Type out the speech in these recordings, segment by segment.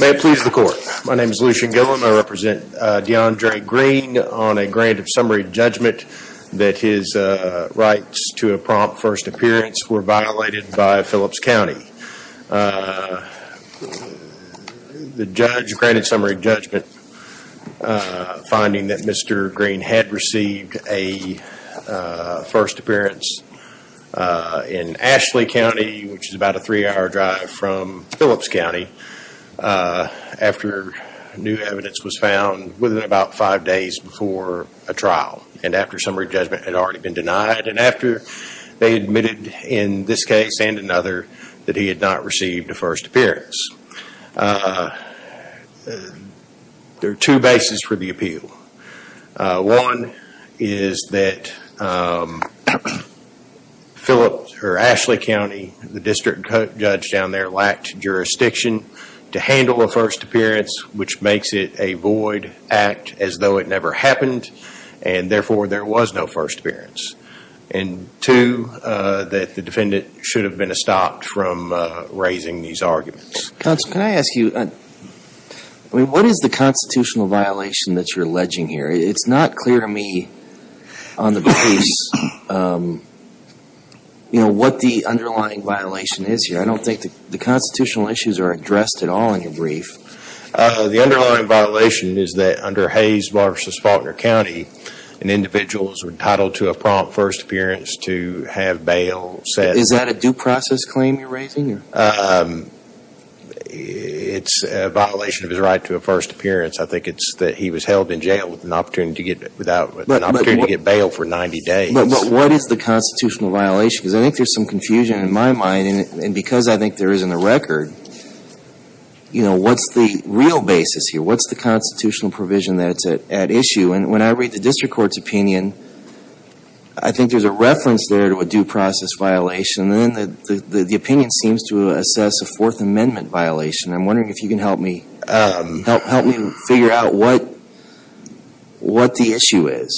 May it please the court. My name is Lucian Gilliam. I represent Deandre Green on a grant of summary judgment that his rights to a prompt first appearance were violated by Phillips County. The judge granted summary judgment finding that Mr. Green had received a first appearance in Phillips County after new evidence was found within about five days before a trial and after summary judgment had already been denied and after they admitted in this case and another that he had not received a first appearance. There are two bases for jurisdiction to handle a first appearance which makes it a void act as though it never happened and therefore there was no first appearance. And two, that the defendant should have been stopped from raising these arguments. Counsel, can I ask you, what is the constitutional violation that you're alleging here? It's not clear to me on the base, you know, what the underlying violation is here. I don't think the constitutional issues are addressed at all in your brief. The underlying violation is that under Hayes v. Faulkner County an individual is entitled to a prompt first appearance to have bail set. Is that a due process claim you're raising? It's a violation of his right to a first appearance. I think it's that he was held in jail with an opportunity to get bail for 90 days. But what is the constitutional violation? Because I think there's some confusion in my mind and because I think there isn't a record, you know, what's the real basis here? What's the constitutional provision that's at issue? And when I read the district court's opinion, I think there's a reference there to a due process violation and then the opinion seems to assess a Fourth Amendment violation. I'm wondering if you can help me figure out what the issue is.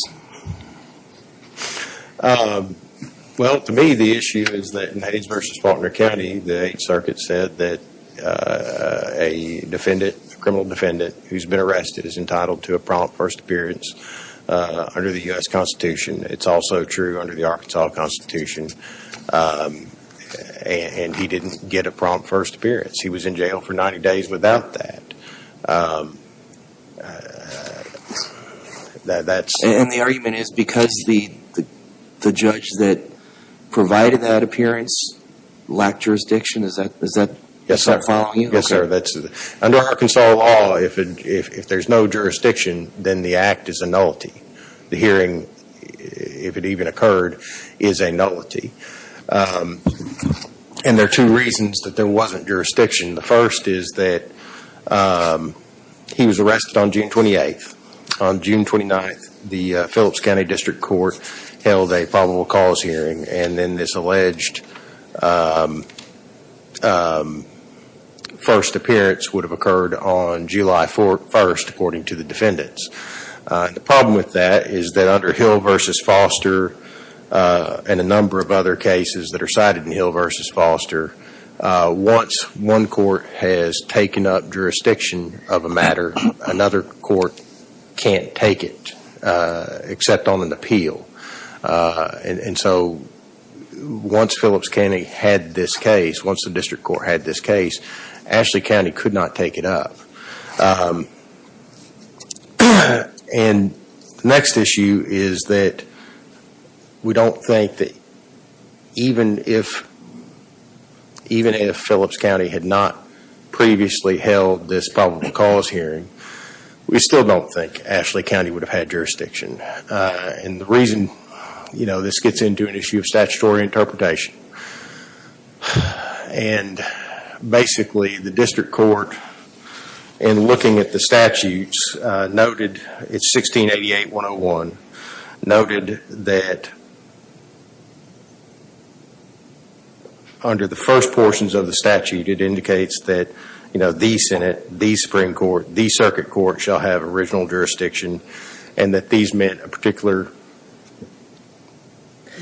Well, to me, the issue is that in Hayes v. Faulkner County, the Eighth Circuit said that a defendant, a criminal defendant, who's been arrested is entitled to a prompt first appearance under the U.S. Constitution. It's also true under the Arkansas Constitution. And he didn't get a prompt first appearance. He was in jail for 90 days without that. And the argument is because the judge that provided that appearance lacked jurisdiction? Is that following you? Yes, sir. Under Arkansas law, if there's no jurisdiction, then the act is a nullity. The hearing, if it even occurred, is a nullity. And there are two reasons that there wasn't He was arrested on June 28th. On June 29th, the Phillips County District Court held a probable cause hearing. And then this alleged first appearance would have occurred on July 1st, according to the defendants. The problem with that is that under Hill v. Foster and a number of other cases that are cited in Hill v. Foster, once one court has taken up jurisdiction of a matter, another court can't take it except on an appeal. And so once Phillips County had this case, once the District Court had this case, Ashley County could not take it up. And the next issue is that we don't think that even if Phillips County had not previously held this probable cause hearing, we still don't think Ashley County would have had jurisdiction. And the reason, you know, this gets into an issue of statutory interpretation. And basically the District Court, in looking at the statutes, noted, it's 1688-101, noted that under the first portions of the statute, it indicates that, you know, the Senate, the Supreme Court, the Circuit Court shall have original jurisdiction. And that these meant a particular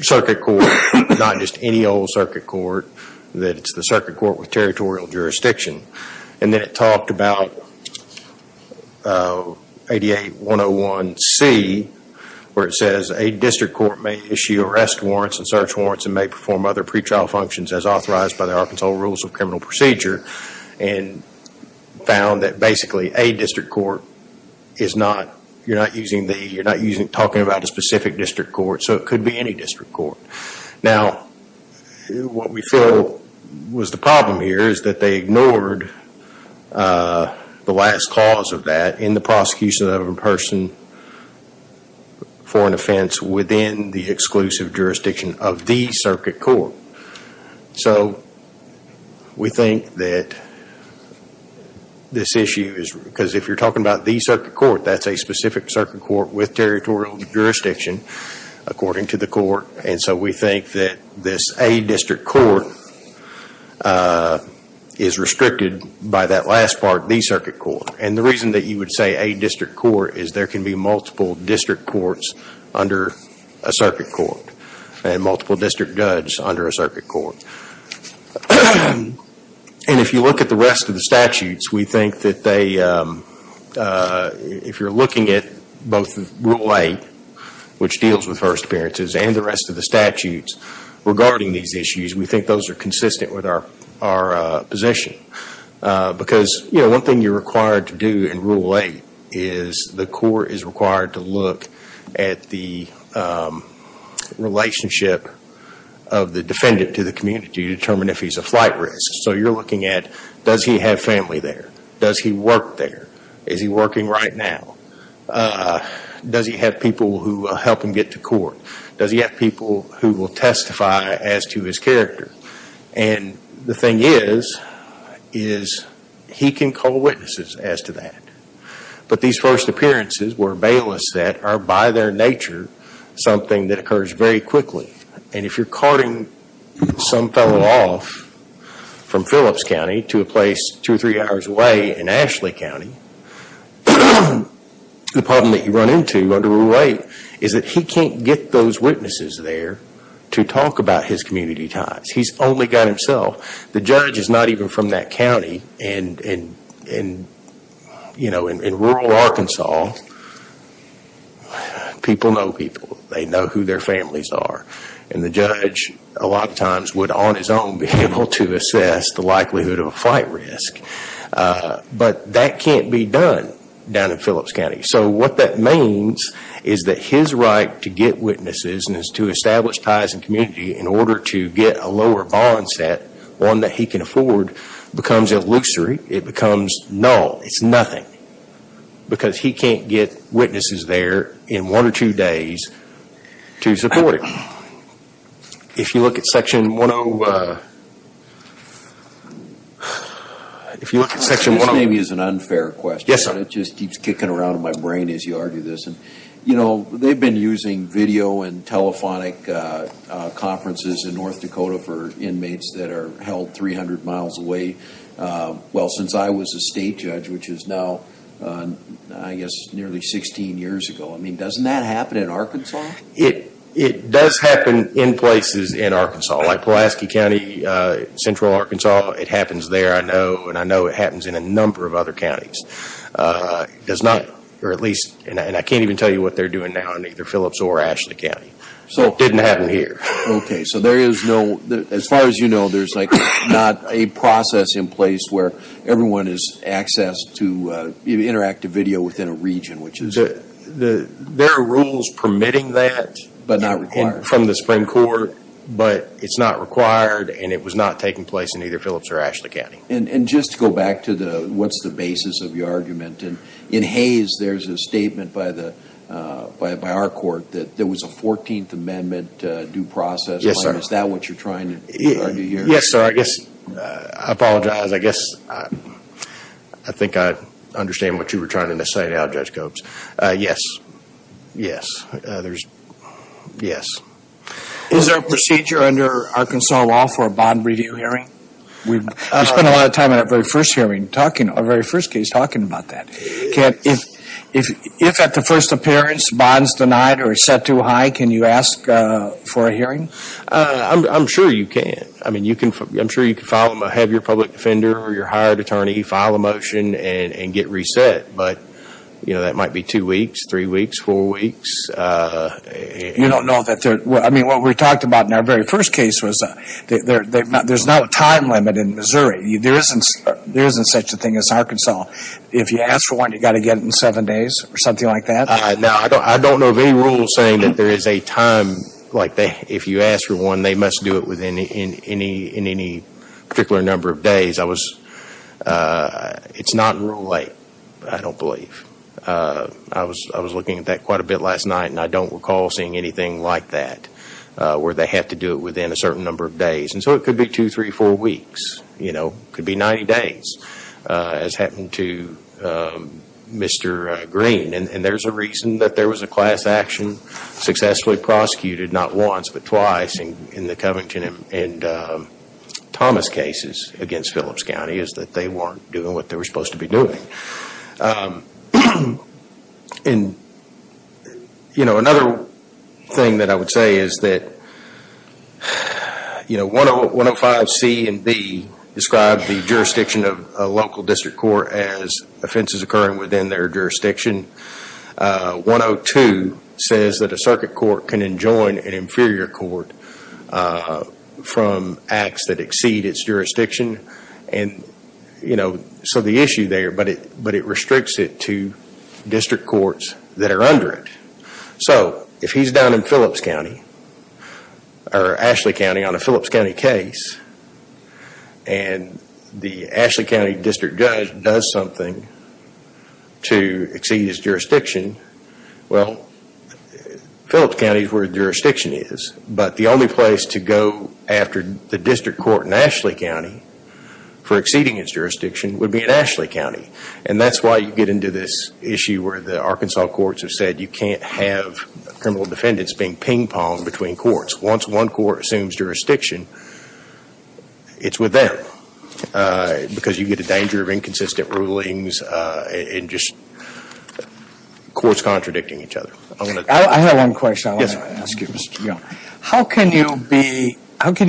Circuit Court, not just any old Circuit Court, that it's the Circuit Court with territorial jurisdiction. And then it talked about ADA-101-C, where it says, a District Court may issue arrest warrants and search warrants and may perform other pretrial functions as authorized by the Arkansas Rules of Criminal Procedure, and found that basically a District Court is not, you're not talking about a specific District Court, so it could be any District Court. Now, what we feel was the problem here is that they ignored the last cause of that in the prosecution of a person for an offense within the exclusive jurisdiction of the Circuit Court. So, we think that this issue is, because if you're talking about the Circuit Court, that's a specific Circuit Court with territorial jurisdiction, according to the Court, and so we think that this, a District Court, is restricted by that last part, the Circuit Court. And the reason that you would say a District Court is there can be multiple District Courts under a Circuit Court, and multiple District Judges under a Circuit Court. And if you look at the rest of the statutes, we think that they, if you're looking at both Rule 8, which deals with first appearances, and the rest of the statutes regarding these in Rule 8, is the Court is required to look at the relationship of the defendant to the community to determine if he's a flight risk. So, you're looking at, does he have family there? Does he work there? Is he working right now? Does he have people who help him get to court? Does he have people who will testify as to his character? And the thing is, is he can call witnesses as to that. But these first appearances were bailiffs that are, by their nature, something that occurs very quickly. And if you're carting some fellow off from Phillips County to a place two or three hours away in Ashley County, the problem that you run into under Rule 8 is that he can't get those witnesses there to talk about his community ties. He's only got himself. The judge is not even from that county. And in rural Arkansas, people know people. They know who their families are. And the judge, a lot of times, would on his own be able to assess the likelihood of a flight risk. But that can't be done down in Phillips County. So, what that means is that his right to get witnesses and to establish ties and community in order to get a lower bond set, one that he can afford, becomes illusory. It becomes null. It's nothing. Because he can't get witnesses there in one or two days to support it. If you look at Section 1-0... If you look at Section 1-0... This maybe is an unfair question. Yes, sir. It just keeps kicking around in my brain as you argue this. You know, they've been using video and telephonic conferences in North Dakota for inmates that are held 300 miles away. Well, since I was a state judge, which is now, I guess, nearly 16 years ago. I mean, doesn't that happen in Arkansas? It does happen in places in Arkansas, like Pulaski County, central Arkansas. It happens there, I know. And I know it happens in a number of other counties. It does not, or at least... And I can't even tell you what they're doing now in either Phillips or Ashley County. It didn't happen here. Okay, so there is no... As far as you know, there's not a process in place where everyone is accessed to interactive video within a region, which is... There are rules permitting that. But not required. From the Supreme Court. But it's not required, and it was not taking place in either Phillips or Ashley County. And just to go back to the... What's the basis of your argument? In Hayes, there's a statement by our court that there was a 14th Amendment due process. Yes, sir. Is that what you're trying to argue here? Yes, sir. I guess... I apologize. I guess I think I understand what you were trying to say now, Judge Copes. Yes. Yes. There's... Yes. Is there a procedure under Arkansas law for a bond review hearing? We spent a lot of time in our very first hearing talking... Our very first case talking about that. If at the first appearance, bonds denied or set too high, can you ask for a hearing? I'm sure you can. I mean, you can... I'm sure you can file... Have your public defender or your hired attorney file a motion and get reset. But, you know, that might be two weeks, three weeks, four weeks. You don't know that there... I mean, what we talked about in our very first case was there's no time limit in Missouri. There isn't such a thing as Arkansas. If you ask for one, you've got to get it in seven days or something like that? Now, I don't know of any rule saying that there is a time like that. If you ask for one, they must do it within any particular number of days. I was... It's not in Rule 8, I don't believe. I was looking at that quite a bit last night and I don't recall seeing anything like that where they have to do it within a certain number of days. And so it could be two, three, four weeks. You know, it could be 90 days as happened to Mr. Green. And there's a reason that there was a class action successfully prosecuted, not once but twice in the Covington and Thomas cases against Phillips County is that they weren't doing what they were supposed to be doing. And, you know, another thing that I would say is that, you know, 105C and 105B describe the jurisdiction of a local district court as offenses occurring within their jurisdiction. 102 says that a circuit court can enjoin an inferior court from acts that exceed its jurisdiction. And, you know, so the issue there, but it restricts it to district courts that are under it. So if he's down in Phillips County or Ashley County on a Phillips County case and the Ashley County district judge does something to exceed his jurisdiction, well, Phillips County is where the jurisdiction is. But the only place to go after the district court in Ashley County for exceeding its jurisdiction would be in Ashley County. And that's why you get into this issue where the Arkansas courts have said you can't have criminal defendants being ping-ponged between courts. Once one court assumes jurisdiction, it's with them because you get a danger of inconsistent rulings and just courts contradicting each other. I have one question I want to ask you. How can you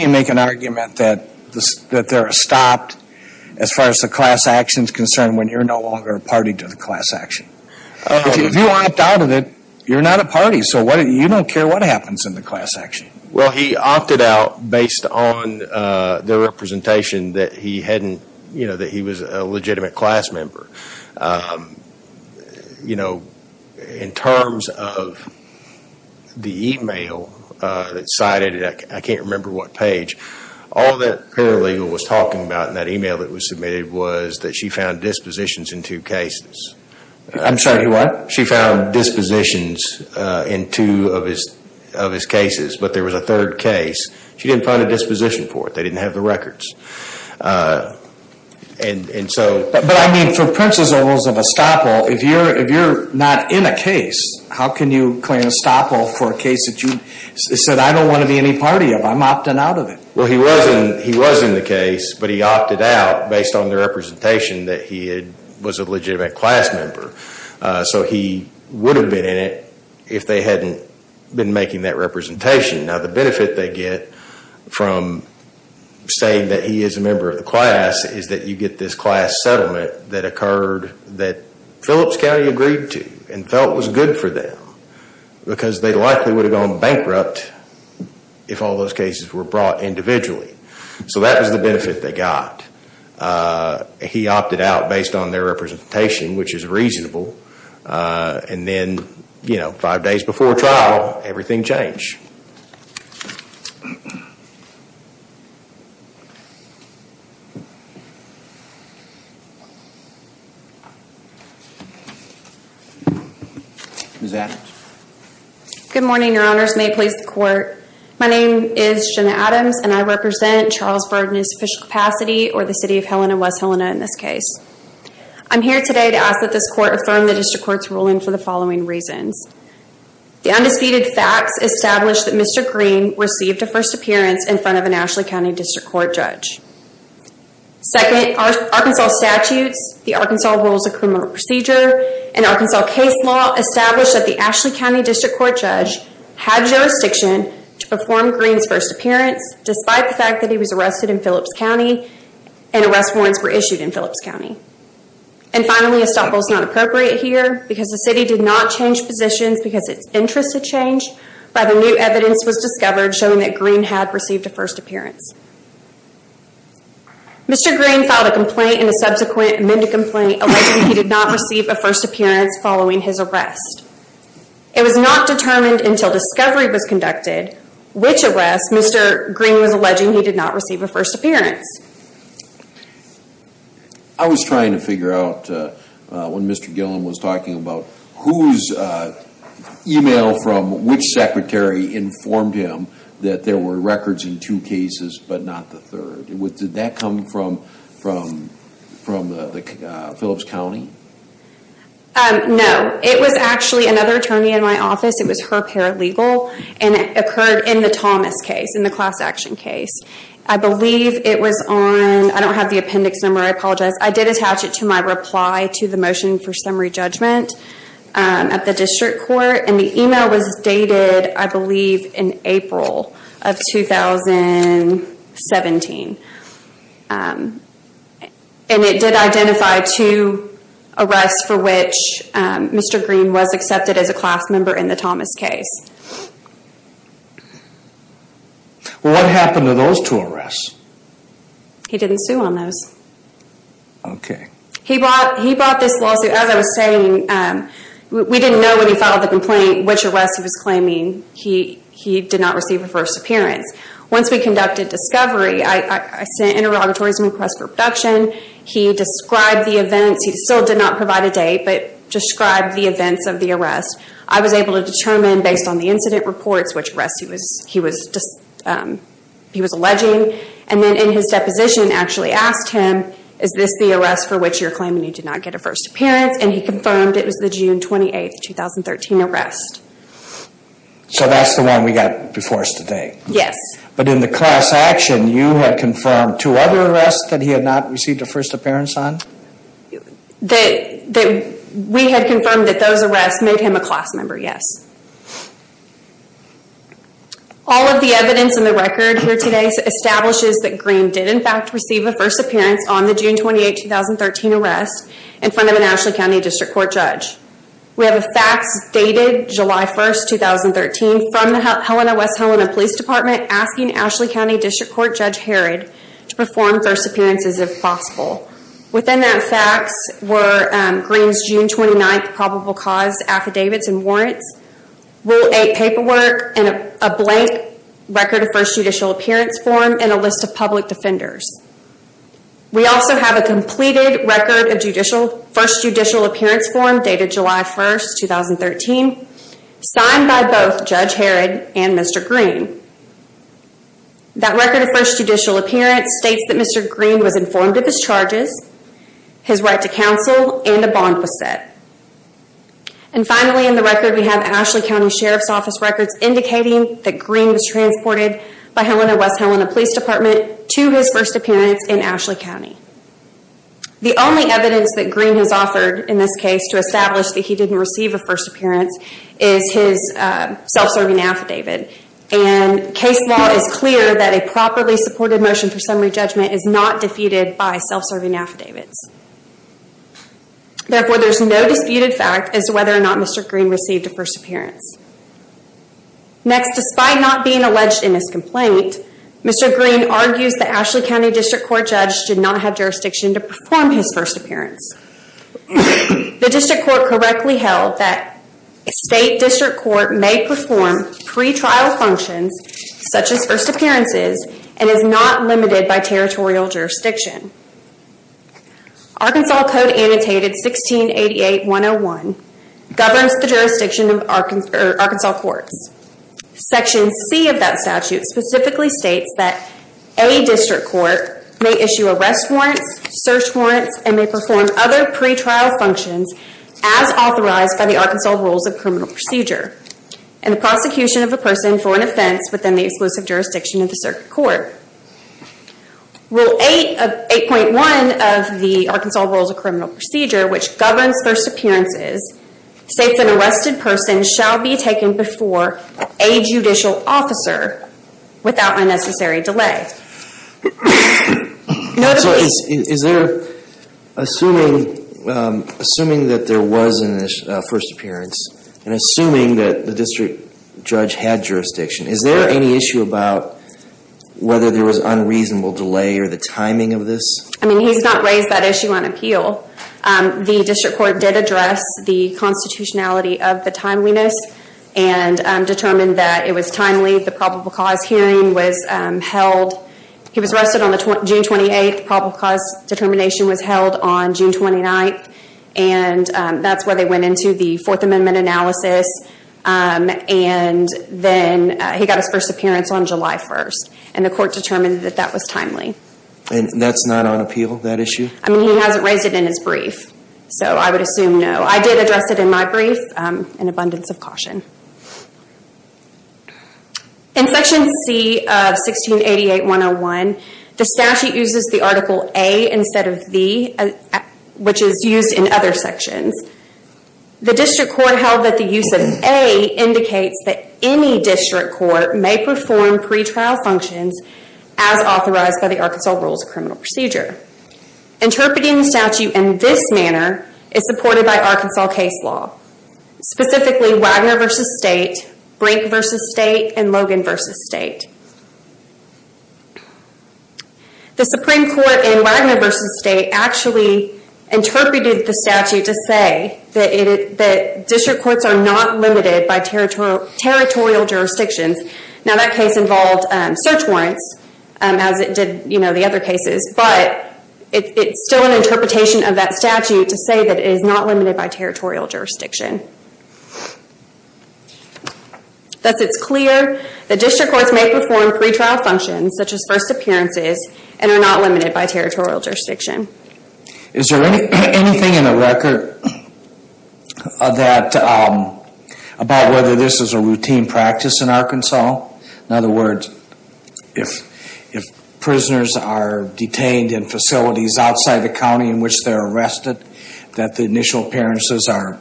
make an argument that they're stopped as far as the class action is concerned when you're no longer a party to the class action? If you opt out of it, you're not a party, so you don't care what happens in the class action. Well, he opted out based on the representation that he was a legitimate class member. In terms of the email that cited it, I can't remember what page, all that paralegal was talking about in that email that was submitted was that she found dispositions in two cases. I'm sorry, what? She found dispositions in two of his cases, but there was a third case. She didn't find a disposition for it. They didn't have the records. But, I mean, for Prince's or Elizabeth Staple, if you're not in a case, how can you claim Staple for a case that you said, I don't want to be any party of, I'm opting out of it? Well, he was in the case, but he opted out based on the representation that he was a legitimate class member. So he would have been in it if they hadn't been making that representation. Now, the benefit they get from saying that he is a member of the class is that you get this class settlement that occurred that Phillips County agreed to and felt was good for them because they likely would have gone bankrupt if all those cases were brought individually. So that was the benefit they got. He opted out based on their representation, which is reasonable. And then, you know, five days before trial, everything changed. Ms. Adams. Good morning, Your Honors. May it please the Court. My name is Jenna Adams, and I represent Charlesburg Municipal Capacity or the City of Helena, West Helena in this case. I'm here today to ask that this Court affirm the District Court's ruling for the following reasons. The undisputed facts establish that Mr. Green received a first appearance in front of an Ashley County District Court judge. Second, Arkansas statutes, the Arkansas Rules of Criminal Procedure, and Arkansas case law establish that the Ashley County District Court judge had jurisdiction to perform Green's first appearance despite the fact that he was arrested in Phillips County and arrest warrants were issued in Phillips County. And finally, a stop rule is not appropriate here because the City did not change positions because its interests had changed by the new evidence was discovered showing that Green had received a first appearance. Mr. Green filed a complaint and a subsequent amended complaint alleging he did not receive a first appearance following his arrest. It was not determined until discovery was conducted which arrest Mr. Green was alleging he did not receive a first appearance. I was trying to figure out when Mr. Gillen was talking about whose email from which secretary informed him that there were records in two cases but not the third. Did that come from Phillips County? No. It was actually another attorney in my office. It was her paralegal and it occurred in the Thomas case, in the class action case. I believe it was on, I don't have the appendix number, I apologize. I did attach it to my reply to the motion for summary judgment at the District Court and the email was dated, I believe, in April of 2017. And it did identify two arrests for which Mr. Green was accepted as a class member in the Thomas case. What happened to those two arrests? He didn't sue on those. Okay. He brought this lawsuit, as I was saying, we didn't know when he filed the complaint which arrest he was claiming he did not receive a first appearance. Once we conducted discovery, I sent interrogatories and requests for production. He described the events, he still did not provide a date, but described the events of the arrest. I was able to determine, based on the incident reports, which arrest he was alleging. And then in his deposition actually asked him, is this the arrest for which you're claiming you did not get a first appearance? And he confirmed it was the June 28, 2013 arrest. So that's the one we got before us today? Yes. But in the class action, you had confirmed two other arrests that he had not received a first appearance on? We had confirmed that those arrests made him a class member, yes. All of the evidence in the record here today establishes that Green did in fact receive a first appearance on the June 28, 2013 arrest in front of an Ashley County District Court judge. We have a fax dated July 1, 2013 from the West Helena Police Department asking Ashley County District Court Judge Harrod to perform first appearances if possible. Within that fax were Green's June 29 probable cause affidavits and warrants, Rule 8 paperwork, a blank record of first judicial appearance form, and a list of public defenders. We also have a completed record of first judicial appearance form dated July 1, 2013, signed by both Judge Harrod and Mr. Green. That record of first judicial appearance states that Mr. Green was informed of his charges, his right to counsel, and a bond was set. And finally in the record we have Ashley County Sheriff's Office records indicating that Green was transported by Helena West Helena Police Department to his first appearance in Ashley County. The only evidence that Green has offered in this case to establish that he didn't receive a first appearance is his self-serving affidavit. And case law is clear that a properly supported motion for summary judgment is not defeated by self-serving affidavits. Therefore there is no disputed fact as to whether or not Mr. Green received a first appearance. Next, despite not being alleged in this complaint, Mr. Green argues that Ashley County District Court Judge did not have jurisdiction to perform his first appearance. The District Court correctly held that State District Court may perform pre-trial functions such as first appearances and is not limited by territorial jurisdiction. Arkansas Code Annotated 1688-101 governs the jurisdiction of Arkansas courts. Section C of that statute specifically states that a District Court may issue arrest warrants, search warrants, and may perform other pre-trial functions as authorized by the Arkansas Rules of Criminal Procedure and the prosecution of a person for an offense within the exclusive jurisdiction of the circuit court. Rule 8.1 of the Arkansas Rules of Criminal Procedure which governs first appearances states an arrested person shall be taken before a judicial officer without unnecessary delay. So is there, assuming that there was a first appearance, and assuming that the district judge had jurisdiction, is there any issue about whether there was unreasonable delay or the timing of this? I mean, he's not raised that issue on appeal. The District Court did address the constitutionality of the timeliness and determined that it was timely. The probable cause hearing was held. He was arrested on June 28th. The probable cause determination was held on June 29th. And that's where they went into the Fourth Amendment analysis. And then he got his first appearance on July 1st. And the court determined that that was timely. And that's not on appeal, that issue? I mean, he hasn't raised it in his brief. So I would assume no. I did address it in my brief. An abundance of caution. In Section C of 1688.101, the statute uses the article A instead of the, which is used in other sections. The District Court held that the use of A indicates that any district court may perform pretrial functions as authorized by the Arkansas Rules of Criminal Procedure. Interpreting the statute in this manner is supported by Arkansas case law. Specifically, Wagner v. State, Brink v. State, and Logan v. State. The Supreme Court in Wagner v. State actually interpreted the statute to say that district courts are not limited by territorial jurisdictions. Now that case involved search warrants, as it did the other cases, but it's still an interpretation of that statute to say that it is not limited by territorial jurisdiction. Thus, it's clear that district courts may perform pretrial functions such as first appearances and are not limited by territorial jurisdiction. Is there anything in the record about whether this is a routine practice in Arkansas? In other words, if prisoners are detained in facilities outside the county in which they're arrested, that the initial appearances are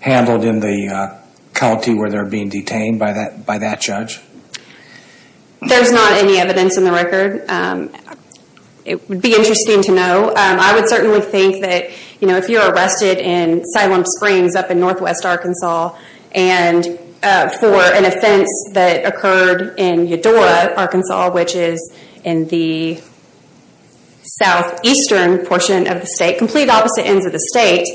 handled in the county where they're being detained by that judge? There's not any evidence in the record. It would be interesting to know. I would certainly think that if you're arrested in Asylum Springs up in northwest Arkansas and for an offense that occurred in Eudora, Arkansas, which is in the southeastern portion of the state, complete opposite ends of the state,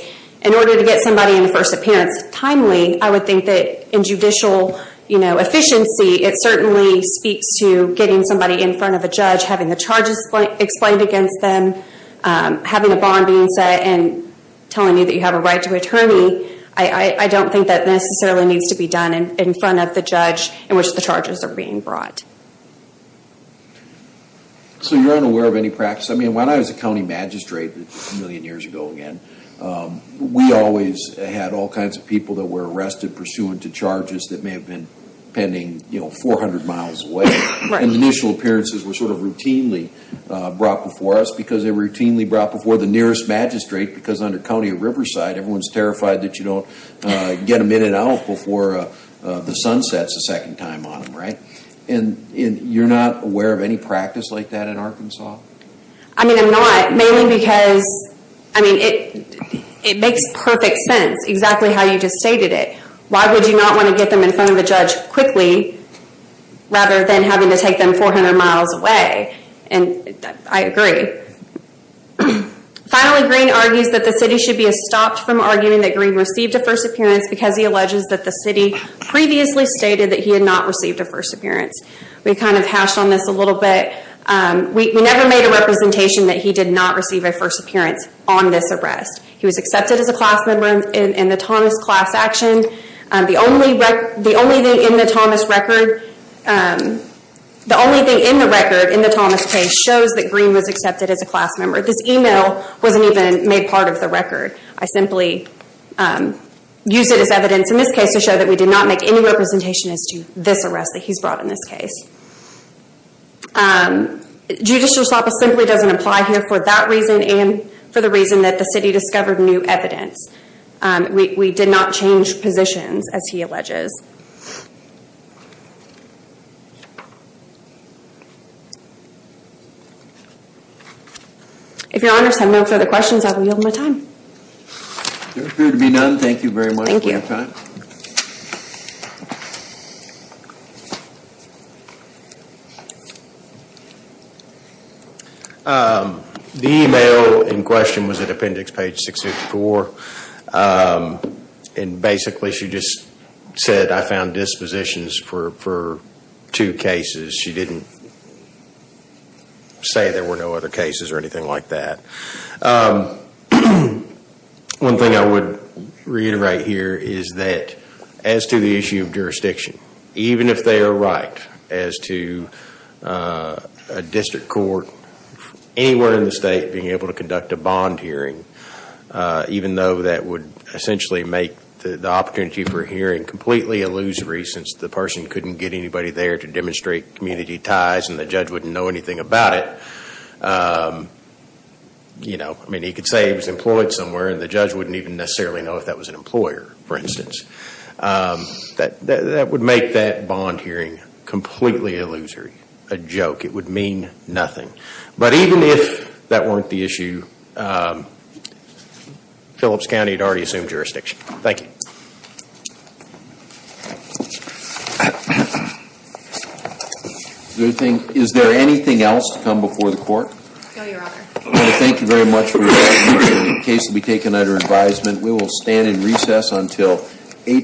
in order to get somebody in the first appearance timely, I would think that in judicial efficiency, it certainly speaks to getting somebody in front of a judge, having the charges explained against them, having a bond being set, and telling you that you have a right to attorney. I don't think that necessarily needs to be done in front of the judge in which the charges are being brought. You're unaware of any practice? When I was a county magistrate a million years ago, we always had all kinds of people that were arrested pursuant to charges that may have been pending 400 miles away. The initial appearances were routinely brought before us because they were routinely brought before the nearest magistrate because under county of Riverside, everyone's terrified that you don't get them in and out before the sun sets a second time on them, right? And you're not aware of any practice like that in Arkansas? I mean, I'm not, mainly because it makes perfect sense, exactly how you just stated it. Why would you not want to get them in front of a judge quickly rather than having to take them 400 miles away? And I agree. Finally, Green argues that the city should be stopped from arguing that Green received a first appearance because he alleges that the city previously stated that he had not received a first appearance. We kind of hashed on this a little bit. We never made a representation that he did not receive a first appearance on this arrest. He was accepted as a class member in the Thomas class action. The only thing in the record in the Thomas case shows that Green was accepted as a class member. This email wasn't even made part of the record. I simply used it as evidence in this case to show that we did not make any representation as to this arrest that he's brought in this case. Judicial stop simply doesn't apply here for that reason and for the reason that the city discovered new evidence. We did not change positions, as he alleges. If your honors have no further questions, I will yield my time. There appears to be none. Thank you very much for your time. Thank you. Thank you. The email in question was at appendix page 654. Basically, she just said, I found dispositions for two cases. She didn't say there were no other cases or anything like that. One thing I would reiterate here is that as to the issue of jurisdiction, even if they are right as to a district court anywhere in the state being able to conduct a bond hearing, even though that would essentially make the opportunity for hearing completely illusory since the person couldn't get anybody there to demonstrate community ties and the judge wouldn't know anything about it. He could say he was employed somewhere and the judge wouldn't even necessarily know if that was an employer, for instance. That would make that bond hearing completely illusory, a joke. It would mean nothing. But even if that weren't the issue, Phillips County had already assumed jurisdiction. Thank you. Is there anything else to come before the court? No, your honor. Thank you very much for your time. The case will be taken under advisement. We will stand in recess until 8 p.m.